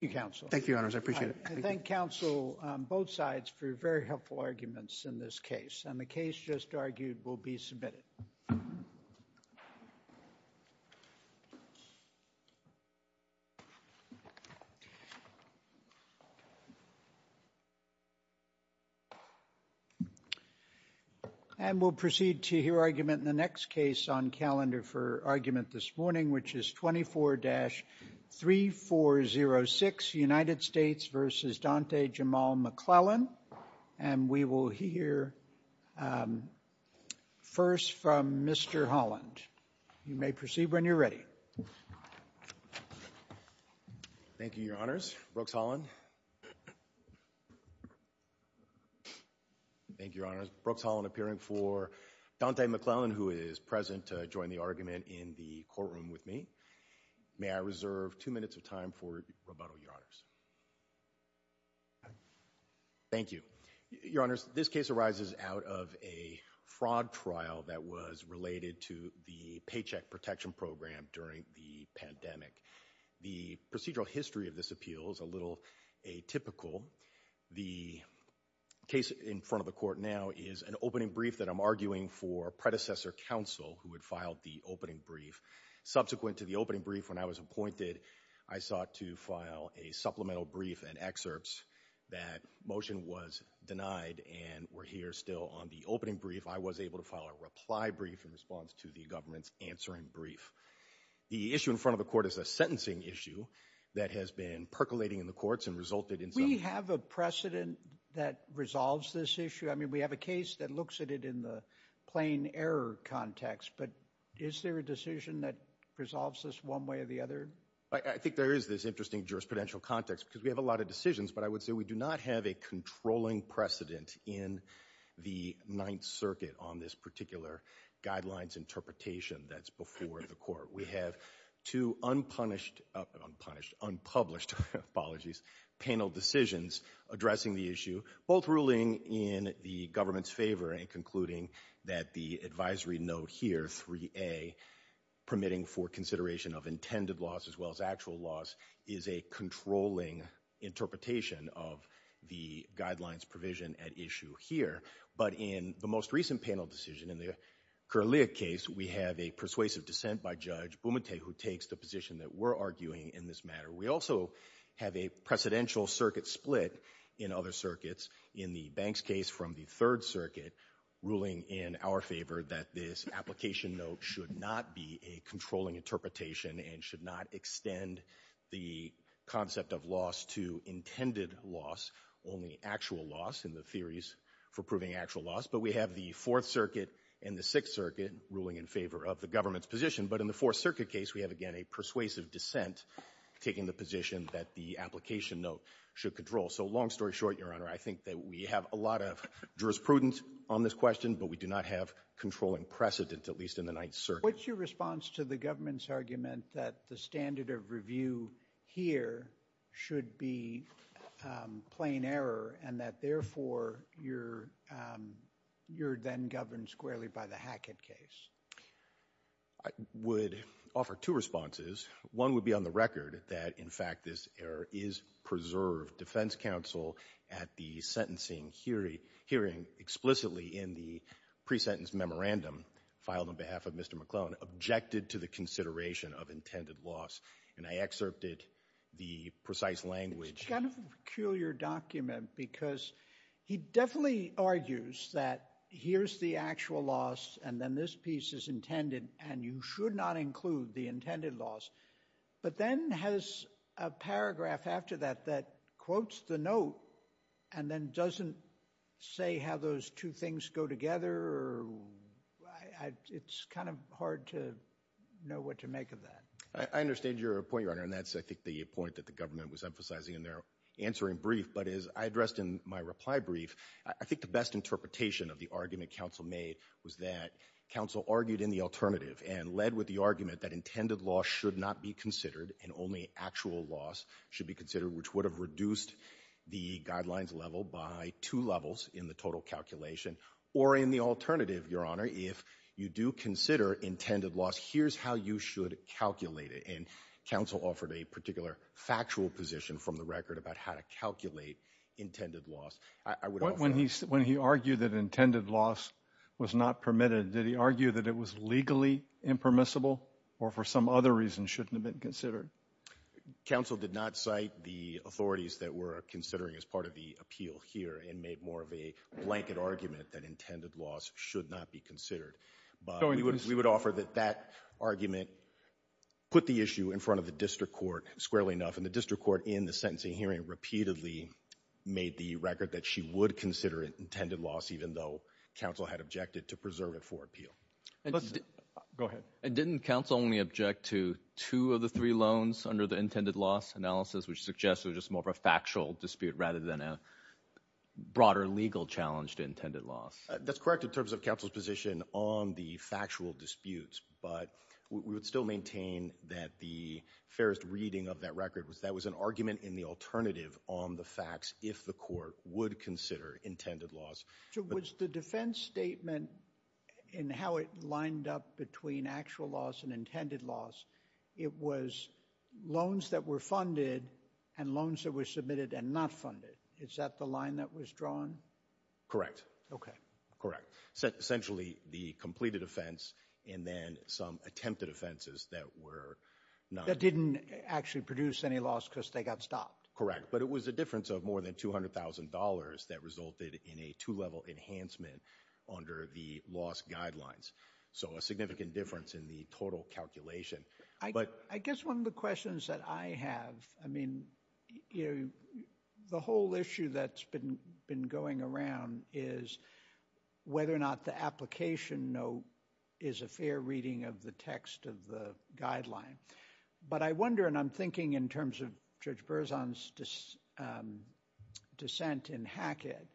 Thank you, Your Honors. I appreciate it. I thank counsel on both sides for very helpful arguments in this case. And the case just argued will be submitted. And we'll proceed to hear argument in the next case on calendar for argument this morning, which is 24-3406, United States v. Dante Jamal McClellan. And we will hear first from Mr. Holland. You may proceed when you're ready. Thank you, Your Honors. Brooks Holland. Thank you, Your Honors. Brooks Holland appearing for Dante McClellan, who is present to join the argument in the courtroom with me. May I reserve two minutes of time for rebuttal, Your Honors. Thank you, Your Honors. This case arises out of a fraud trial that was related to the Paycheck Protection Program during the pandemic. The procedural history of this appeal is a little atypical. The case in front of the court now is an opening brief that I'm arguing for predecessor counsel who had filed the opening brief. Subsequent to the opening brief when I was appointed, I sought to file a supplemental brief and excerpts that motion was denied and we're here still on the opening brief. I was able to file a reply brief in response to the government's answering brief. The issue in front of the court is a sentencing issue that has been percolating in the courts and resulted in some... We have a precedent that resolves this issue. I mean, we have a case that looks at it in the plain error context, but is there a decision that resolves this one way or the other? I think there is this interesting jurisprudential context because we have a lot of decisions, but I would say we do not have a controlling precedent in the Ninth Circuit on this particular guidelines interpretation that's before the court. We have two unpublished panel decisions addressing the issue, both ruling in the government's favor and concluding that the advisory note here 3A permitting for consideration of intended loss as well as actual loss is a controlling interpretation of the guidelines provision at issue here. But in the most recent panel decision in the Kirliuk case, we have a persuasive dissent by Judge Bumate who takes the position that we're arguing in this matter. We also have a precedential circuit split in other circuits in the Banks case from the Third Circuit ruling in our favor that this application note should not be a controlling interpretation and should not extend the concept of loss to intended loss, only actual loss in the theories for proving actual loss. But we have the Fourth Circuit and the Sixth Circuit ruling in favor of the government's position. But in the Fourth Circuit case, we have, again, a persuasive dissent taking the position that the application note should control. So long story short, Your Honor, I think that we have a lot of jurisprudence on this question, but we do not have controlling precedent, at least in the Ninth Circuit. What's your response to the government's argument that the standard of review here should be plain error, and that, therefore, you're then governed squarely by the Hackett case? I would offer two responses. One would be on the record that, in fact, this error is preserved. Defense counsel at the sentencing hearing explicitly in the pre-sentence memorandum filed on behalf of Mr. McClellan objected to the consideration of intended loss, and I excerpted the precise language. It's kind of a peculiar document, because he definitely argues that here's the actual loss, and then this piece is intended, and you should not include the intended loss. But then has a paragraph after that that quotes the note, and then doesn't say how those two things go together. It's kind of hard to know what to make of that. I understand your point, Your Honor, and that's, I think, the point that the government was emphasizing in their answering brief, but as I addressed in my reply brief, I think the best interpretation of the argument counsel made was that counsel argued in the alternative and led with the argument that intended loss should not be considered and only actual loss should be considered, which would have reduced the guidelines level by two levels in the total calculation. Or in the alternative, Your Honor, if you do consider intended loss, here's how you should calculate it, and counsel offered a particular factual position from the record about how to calculate intended loss. I would offer that. When he argued that intended loss was not permitted, did he argue that it was legally impermissible, or for some other reason shouldn't have been considered? Counsel did not cite the authorities that were considering as part of the appeal here and made more of a blanket argument that intended loss should not be considered, but we would offer that that argument put the issue in front of the district court squarely enough, and the district court in the sentencing hearing repeatedly made the record that she would consider intended loss even though counsel had objected to preserve it for appeal. Let's, go ahead. Didn't counsel only object to two of the three loans under the intended loss analysis, which suggests it was just more of a factual dispute rather than a broader legal challenge to intended loss? That's correct in terms of counsel's position on the factual disputes, but we would still maintain that the fairest reading of that record was that was an argument in the alternative on the facts if the court would consider intended loss. So was the defense statement in how it lined up between actual loss and intended loss, it was loans that were funded and loans that were submitted and not funded. Is that the line that was drawn? Correct. Okay. Correct. Essentially, the completed offense and then some attempted offenses that were not... That didn't actually produce any loss because they got stopped. Correct, but it was a difference of more than $200,000 that resulted in a two-level enhancement under the loss guidelines. So a significant difference in the total calculation, but... I guess one of the questions that I have, I mean, you know, the whole issue that's been going around is whether or not the application note is a fair reading of the text of the But I wonder, and I'm thinking in terms of Judge Berzon's dissent in Hackett,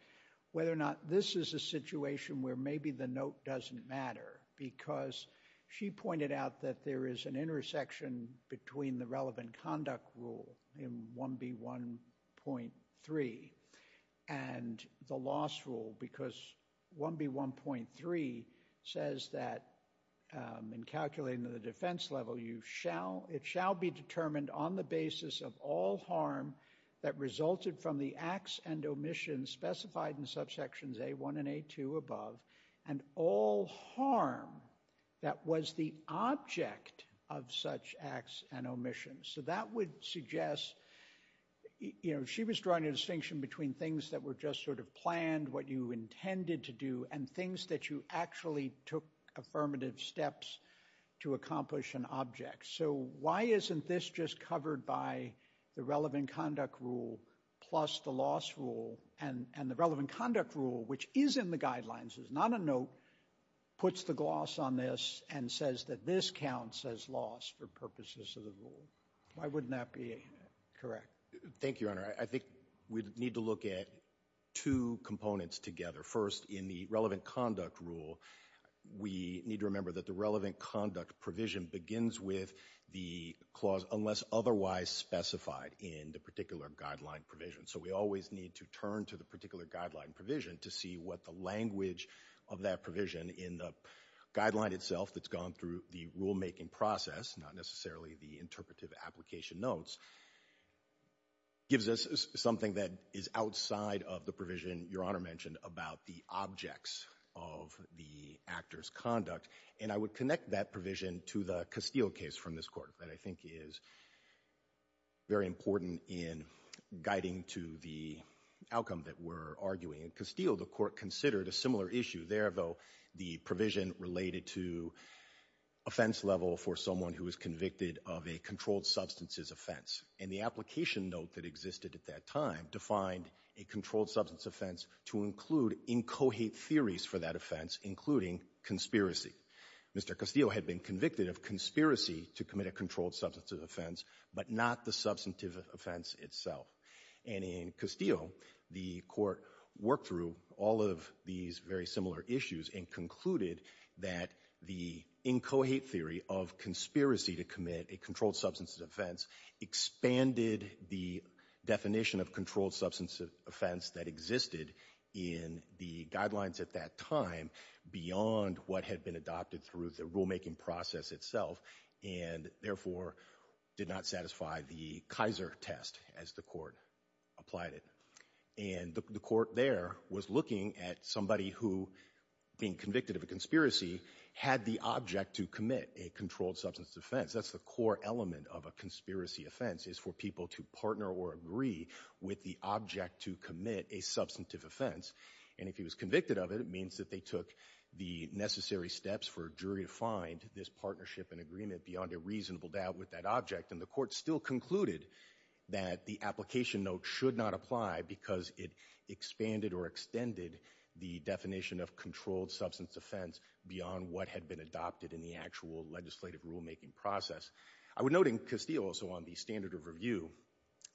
whether or not this is a situation where maybe the note doesn't matter because she pointed out that there is an intersection between the relevant conduct rule in 1B1.3 and the loss rule because 1B1.3 says that in calculating the defense level, it shall be determined on the basis of all harm that resulted from the acts and omissions specified in subsections A1 and A2 above and all harm that was the object of such acts and omissions. So that would suggest, you know, she was drawing a distinction between things that were just sort of planned, what you intended to do, and things that you actually took affirmative steps to accomplish an object. So why isn't this just covered by the relevant conduct rule plus the loss rule and the relevant conduct rule, which is in the guidelines, is not a note, puts the gloss on this and says that this counts as loss for purposes of the rule. Why wouldn't that be correct? Thank you, Your Honor. I think we need to look at two components together. First, in the relevant conduct rule, we need to remember that the relevant conduct provision begins with the clause unless otherwise specified in the particular guideline provision. So we always need to turn to the particular guideline provision to see what the language of that provision in the guideline itself that's gone through the rulemaking process, not necessarily the interpretive application notes, gives us something that is outside of the provision Your Honor mentioned about the objects of the actor's conduct. And I would connect that provision to the Castile case from this court that I think is very important in guiding to the outcome that we're arguing. In Castile, the court considered a similar issue there, though, the provision related to offense level for someone who is convicted of a controlled substances offense. And the application note that existed at that time defined a controlled substance offense to include inchoate theories for that offense, including conspiracy. Mr. Castile had been convicted of conspiracy to commit a controlled substance offense, but not the substantive offense itself. And in Castile, the court worked through all of these very similar issues and concluded that the inchoate theory of conspiracy to commit a controlled substance offense expanded the definition of controlled substance offense that existed in the guidelines at that time beyond what had been adopted through the rulemaking process itself, and therefore, did not satisfy the Kaiser test as the court applied it. And the court there was looking at somebody who, being convicted of a conspiracy, had the object to commit a controlled substance offense. That's the core element of a conspiracy offense, is for people to partner or agree with the object to commit a substantive offense. And if he was convicted of it, it means that they took the necessary steps for a jury to find this partnership and agreement beyond a reasonable doubt with that object. And the court still concluded that the application note should not apply because it expanded or extended the definition of controlled substance offense beyond what had been adopted in the actual legislative rulemaking process. I would note in Castile, also on the standard of review,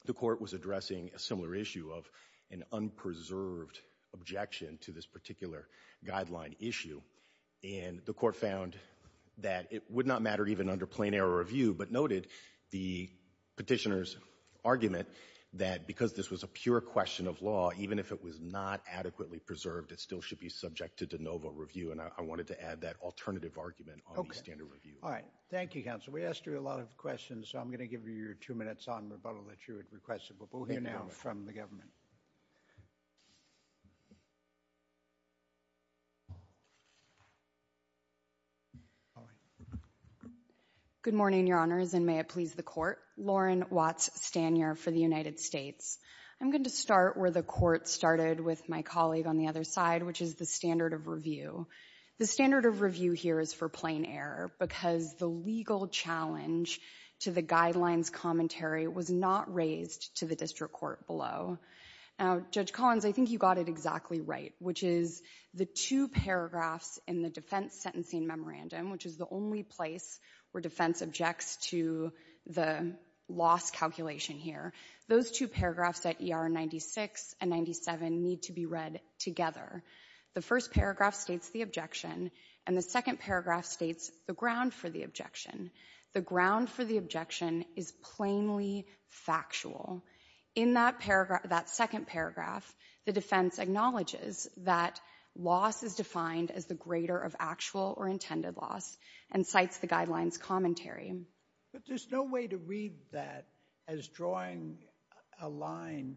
the court was addressing a similar issue of an unpreserved objection to this particular guideline issue, and the court found that it would not matter even under plain error review, but noted the petitioner's argument that because this was a pure question of law, even if it was not adequately preserved, it still should be subjected to no vote review. And I wanted to add that alternative argument on the standard review. All right, thank you, counsel. We asked you a lot of questions, so I'm going to give you your two minutes on rebuttal that you had requested, but we'll hear now from the government. Good morning, your honors, and may it please the court. Lauren Watts Stanier for the United States. I'm going to start where the court started with my colleague on the other side, which is the standard of review. The standard of review here is for plain error because the legal challenge to the guidelines commentary was not raised to the district court below. Now, Judge Collins, I think you got it exactly right, which is the two paragraphs in the defense sentencing memorandum, which is the only place where defense objects to the loss calculation here. Those two paragraphs at ER 96 and 97 need to be read together. The first paragraph states the objection, and the second paragraph states the ground for the objection. The ground for the objection is plainly factual. In that second paragraph, the defense acknowledges that loss is defined as the greater of actual or intended loss, and cites the guidelines commentary. But there's no way to read that as drawing a line.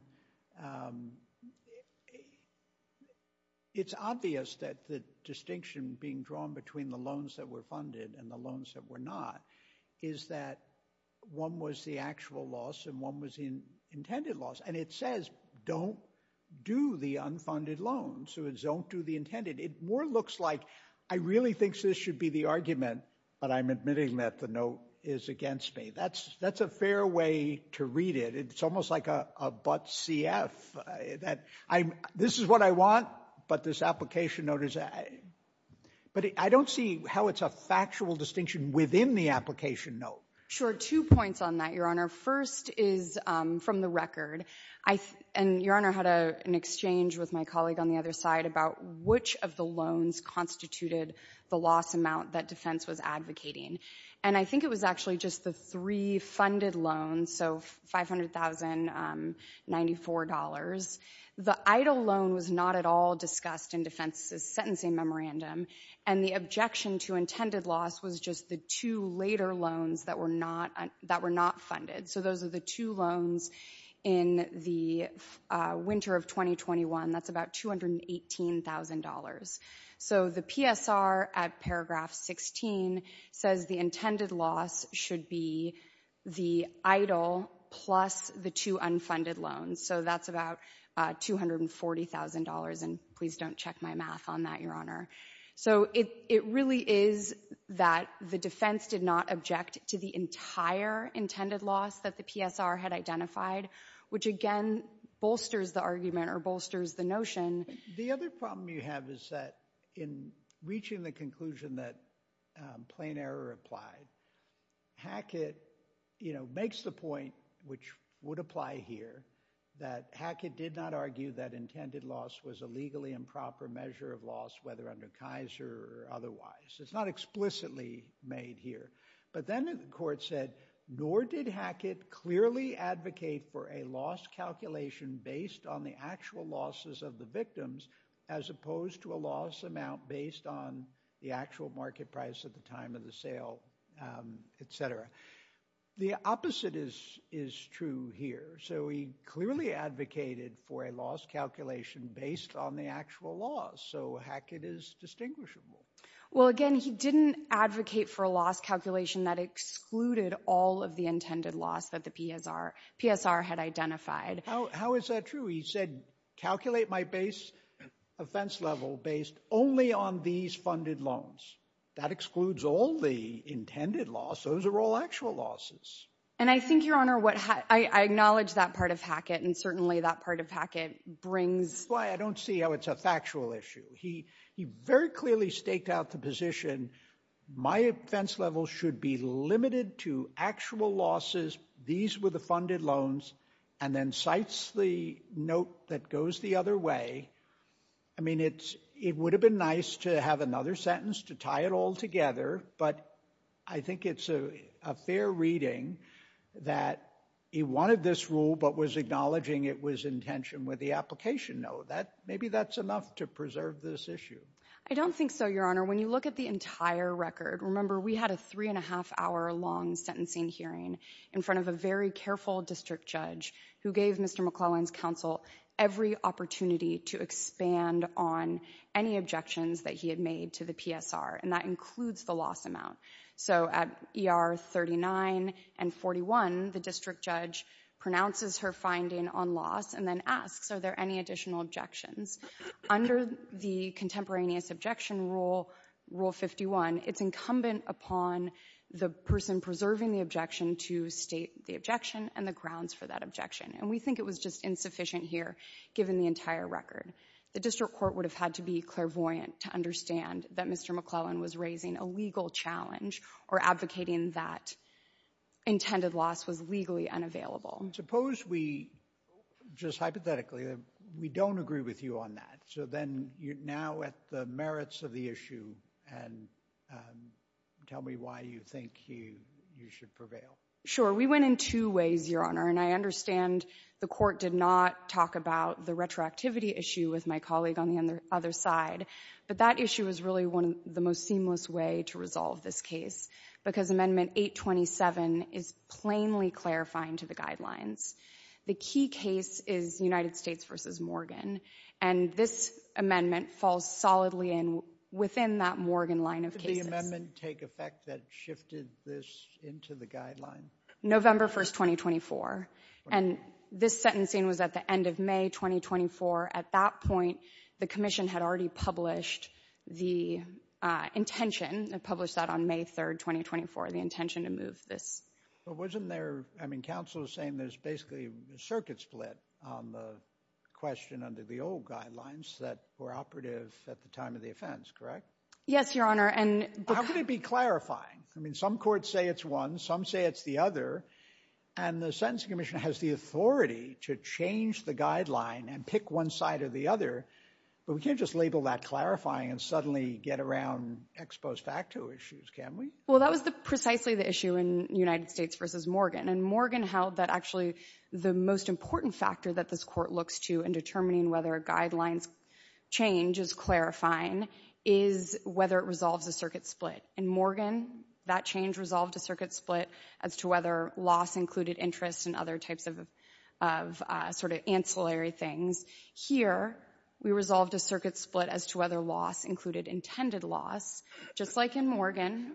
It's obvious that the distinction being drawn between the loans that were funded and the loans that were not is that one was the actual loss and one was the intended loss, and it says don't do the unfunded loan. So it's don't do the intended. It more looks like, I really think this should be the argument, but I'm admitting that the note is against me. That's a fair way to read it. It's almost like a but CF, that this is what I want, but this application note is a, but I don't see how it's a factual distinction within the application note. Two points on that, Your Honor. First is from the record, and Your Honor had an exchange with my colleague on the other side about which of the loans constituted the loss amount that defense was advocating. And I think it was actually just the three funded loans, so $500,094. The EIDL loan was not at all discussed in defense's sentencing memorandum, and the objection to intended loss was just the two later loans that were not funded. So those are the two loans in the winter of 2021. That's about $218,000. So the PSR at paragraph 16 says the intended loss should be the EIDL plus the two unfunded loans. So that's about $240,000, and please don't check my math on that, Your Honor. So it really is that the defense did not object to the entire intended loss that the PSR had identified, which again bolsters the argument or bolsters the notion. The other problem you have is that in reaching the conclusion that plain error applied, Hackett makes the point, which would apply here, that Hackett did not argue that intended loss was a legally improper measure of loss, whether under Kaiser or otherwise. It's not explicitly made here. But then the court said, nor did Hackett clearly advocate for a loss calculation based on the actual losses of the victims as opposed to a loss amount based on the actual market price at the time of the sale, etc. The opposite is true here. So he clearly advocated for a loss calculation based on the actual loss. So Hackett is distinguishable. Well, again, he didn't advocate for a loss calculation that excluded all of the intended loss that the PSR had identified. How is that true? He said, calculate my offense level based only on these funded loans. That excludes all the intended loss. Those are all actual losses. And I think, Your Honor, I acknowledge that part of Hackett and certainly that part of Hackett brings- That's why I don't see how it's a factual issue. He very clearly staked out the position, my offense level should be limited to actual losses. These were the funded loans. And then cites the note that goes the other way. I mean, it would have been nice to have another sentence to tie it all together. But I think it's a fair reading that he wanted this rule but was acknowledging it was in tension with the application note. Maybe that's enough to preserve this issue. I don't think so, Your Honor. When you look at the entire record, remember we had a three and a half hour long sentencing hearing. In front of a very careful district judge who gave Mr. McClellan's counsel every opportunity to expand on any objections that he had made to the PSR. And that includes the loss amount. So at ER 39 and 41, the district judge pronounces her finding on loss and then asks, are there any additional objections? Under the contemporaneous objection rule, rule 51, it's incumbent upon the person preserving the objection to state the objection and the grounds for that objection. And we think it was just insufficient here, given the entire record. The district court would have had to be clairvoyant to understand that Mr. McClellan was raising a legal challenge or advocating that intended loss was legally unavailable. Suppose we, just hypothetically, we don't agree with you on that. So then, you're now at the merits of the issue. And tell me why you think you should prevail. Sure, we went in two ways, Your Honor. And I understand the court did not talk about the retroactivity issue with my colleague on the other side. But that issue is really one of the most seamless way to resolve this case. Because Amendment 827 is plainly clarifying to the guidelines. The key case is United States versus Morgan. And this amendment falls solidly in within that Morgan line of cases. Did the amendment take effect that shifted this into the guideline? November 1st, 2024. And this sentencing was at the end of May 2024. At that point, the commission had already published the intention, published that on May 3rd, 2024, the intention to move this. But wasn't there, I mean, counsel is saying there's basically a circuit split on the question under the old guidelines that were operative at the time of the offense, correct? Yes, Your Honor. And- How could it be clarifying? I mean, some courts say it's one, some say it's the other. And the Sentencing Commission has the authority to change the guideline and pick one side or the other. But we can't just label that clarifying and suddenly get around ex post facto issues, can we? Well, that was precisely the issue in United States versus Morgan. And Morgan held that actually the most important factor that this court looks to in determining whether a guidelines change is clarifying is whether it resolves a circuit split. In Morgan, that change resolved a circuit split as to whether loss included interest and other types of sort of ancillary things. Here, we resolved a circuit split as to whether loss included intended loss. Just like in Morgan,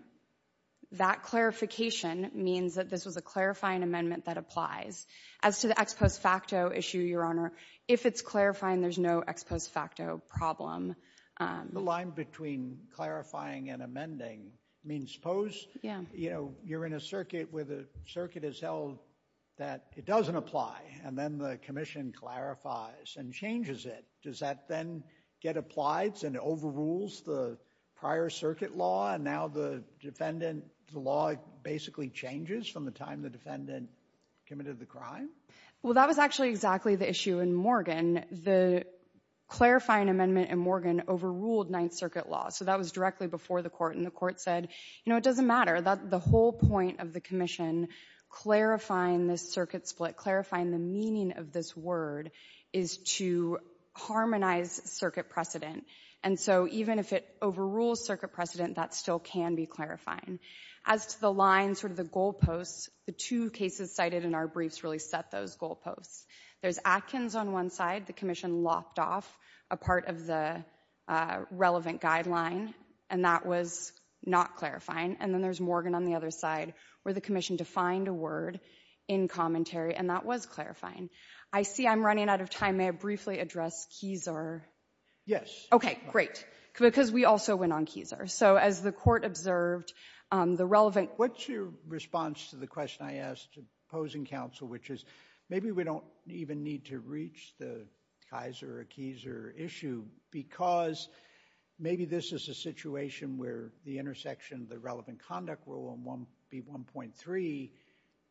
that clarification means that this was a clarifying amendment that applies. As to the ex post facto issue, Your Honor, if it's clarifying, there's no ex post facto problem. The line between clarifying and amending means suppose, you know, you're in a circuit where the circuit is held that it doesn't apply and then the commission clarifies and changes it. Does that then get applied and overrules the prior circuit law and now the defendant, the law basically changes from the time the defendant committed the crime? Well, that was actually exactly the issue in Morgan. The clarifying amendment in Morgan overruled Ninth Circuit law. So that was directly before the court. And the court said, you know, it doesn't matter. The whole point of the commission clarifying this circuit split, clarifying the meaning of this word is to harmonize circuit precedent. And so even if it overrules circuit precedent, that still can be clarifying. As to the line, sort of the goalposts, the two cases cited in our briefs really set those goalposts. There's Atkins on one side, the commission lopped off a part of the relevant guideline and that was not clarifying. And then there's Morgan on the other side where the commission defined a word in commentary and that was clarifying. I see I'm running out of time. May I briefly address Kieser? Yes. Okay, great. Because we also went on Kieser. So as the court observed, the relevant... What's your response to the question I asked opposing counsel, which is maybe we don't even need to reach the Kaiser or Kieser issue because maybe this is a situation where the intersection of the relevant conduct rule in 1B1.3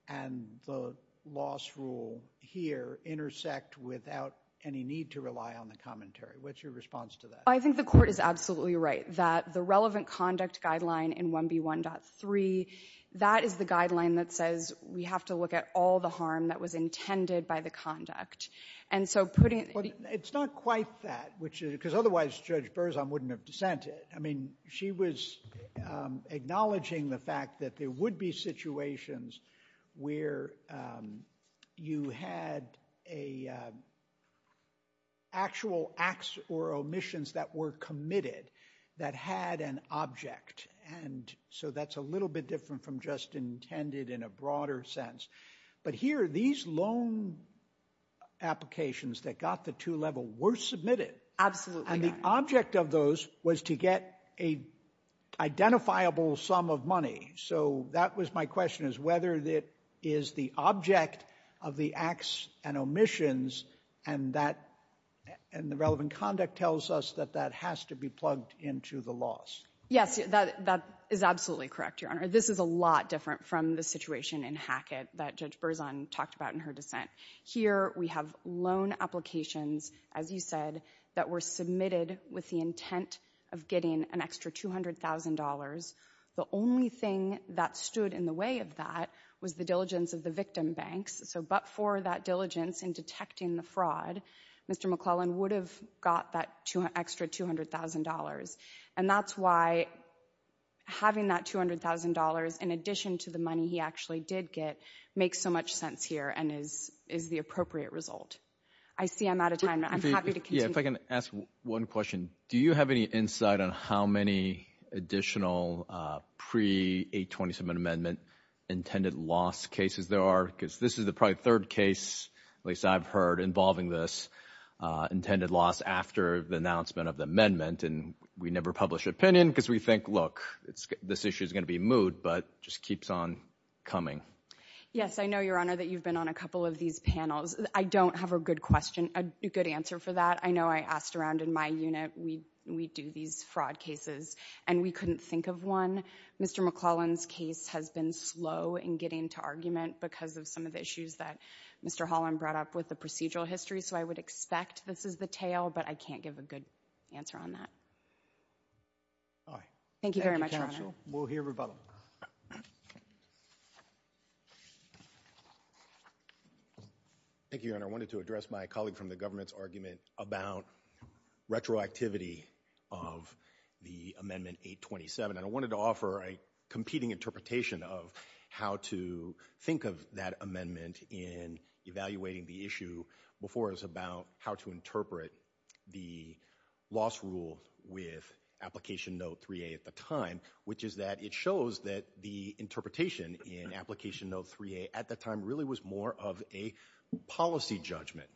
and the loss rule here intersect without any need to rely on the commentary. What's your response to that? I think the court is absolutely right that the relevant conduct guideline in 1B1.3, that is the guideline that says we have to look at all the harm that was intended by the conduct. And so putting... It's not quite that, because otherwise Judge Berzon wouldn't have dissented. I mean, she was acknowledging the fact that there would be situations where you had actual acts or omissions that were committed that had an object. And so that's a little bit different from just intended in a broader sense. But here, these loan applications that got the two-level were submitted. Absolutely. And the object of those was to get a identifiable sum of money. So that was my question, is whether that is the object of the acts and omissions and the relevant conduct tells us that that has to be plugged into the loss. Yes, that is absolutely correct, Your Honor. This is a lot different from the situation in Hackett that Judge Berzon talked about in her dissent. Here, we have loan applications, as you said, that were submitted with the intent of getting an extra $200,000. The only thing that stood in the way of that was the diligence of the victim banks. So but for that diligence in detecting the fraud, Mr. McClellan would have got that extra $200,000. And that's why having that $200,000 in addition to the money he actually did get makes so much sense here and is the appropriate result. I see I'm out of time. I'm happy to continue. Yeah, if I can ask one question. Do you have any insight on how many additional pre-827 amendment intended loss cases there are? Because this is the probably third case, at least I've heard, involving this intended loss after the announcement of the amendment. And we never publish opinion because we think, look, this issue is going to be moved, but just keeps on coming. Yes, I know, Your Honor, that you've been on a couple of these panels. I don't have a good question, a good answer for that. I know I asked around in my unit, we do these fraud cases, and we couldn't think of one. Mr. McClellan's case has been slow in getting to argument because of some of the issues that Mr. Holland brought up with the procedural history. So I would expect this is the tale, but I can't give a good answer on that. All right. Thank you very much, Your Honor. We'll hear rebuttal. Thank you, Your Honor. I wanted to address my colleague from the government's argument about retroactivity of the Amendment 827. And I wanted to offer a competing interpretation of how to think of that amendment in evaluating the issue before us about how to interpret the loss rule with Application Note 3A at the time, which is that it shows that the interpretation in Application Note 3A at the time really was more of a policy judgment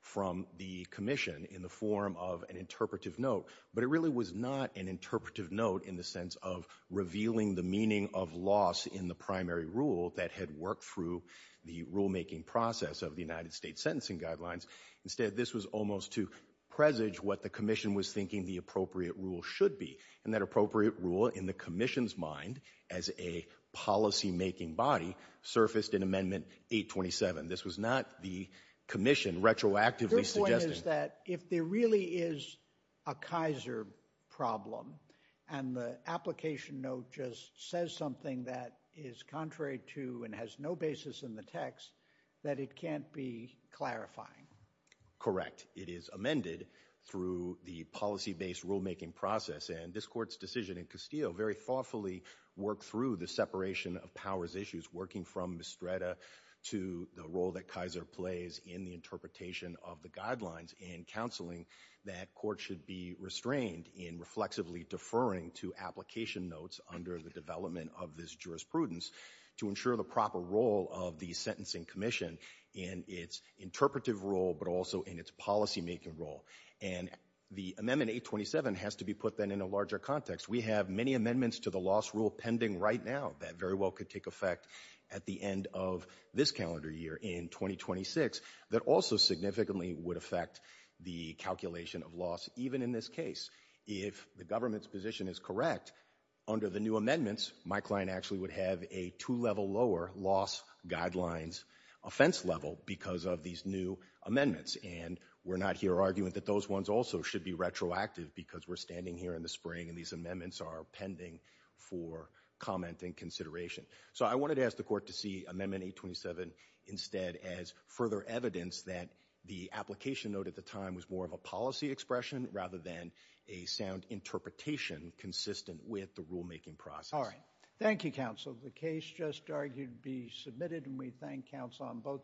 from the Commission in the form of an interpretive note. But it really was not an interpretive note in the sense of revealing the meaning of loss in the primary rule that had worked through the rulemaking process of the United States Sentencing Guidelines. Instead, this was almost to presage what the Commission was thinking the appropriate rule should be. And that appropriate rule, in the Commission's mind, as a policymaking body surfaced in Amendment 827. This was not the Commission retroactively suggesting— Your point is that if there really is a Kaiser problem and the Application Note just says something that is contrary to and has no basis in the text, that it can't be clarifying. Correct. It is amended through the policy-based rulemaking process. And this Court's decision in Castillo very thoughtfully worked through the separation of powers issues, working from Mistretta to the role that Kaiser plays in the interpretation of the guidelines and counseling that court should be restrained in reflexively deferring to Application Notes under the development of this jurisprudence to ensure the proper role of the Sentencing Commission in its interpretive role but also in its policymaking role. And the Amendment 827 has to be put then in a larger context. We have many amendments to the loss rule pending right now that very well could take effect at the end of this calendar year in 2026 that also significantly would affect the calculation of loss even in this case. If the government's position is correct, under the new amendments, my client actually would have a two-level lower loss guidelines offense level because of these new amendments. And we're not here arguing that those ones also should be retroactive because we're standing here in the spring and these amendments are pending for comment and consideration. So I wanted to ask the Court to see Amendment 827 instead as further evidence that the Application Note at the time was more of a policy expression rather than a sound interpretation consistent with the rulemaking process. Thank you, Counsel. The case just argued be submitted and we thank counsel on both sides.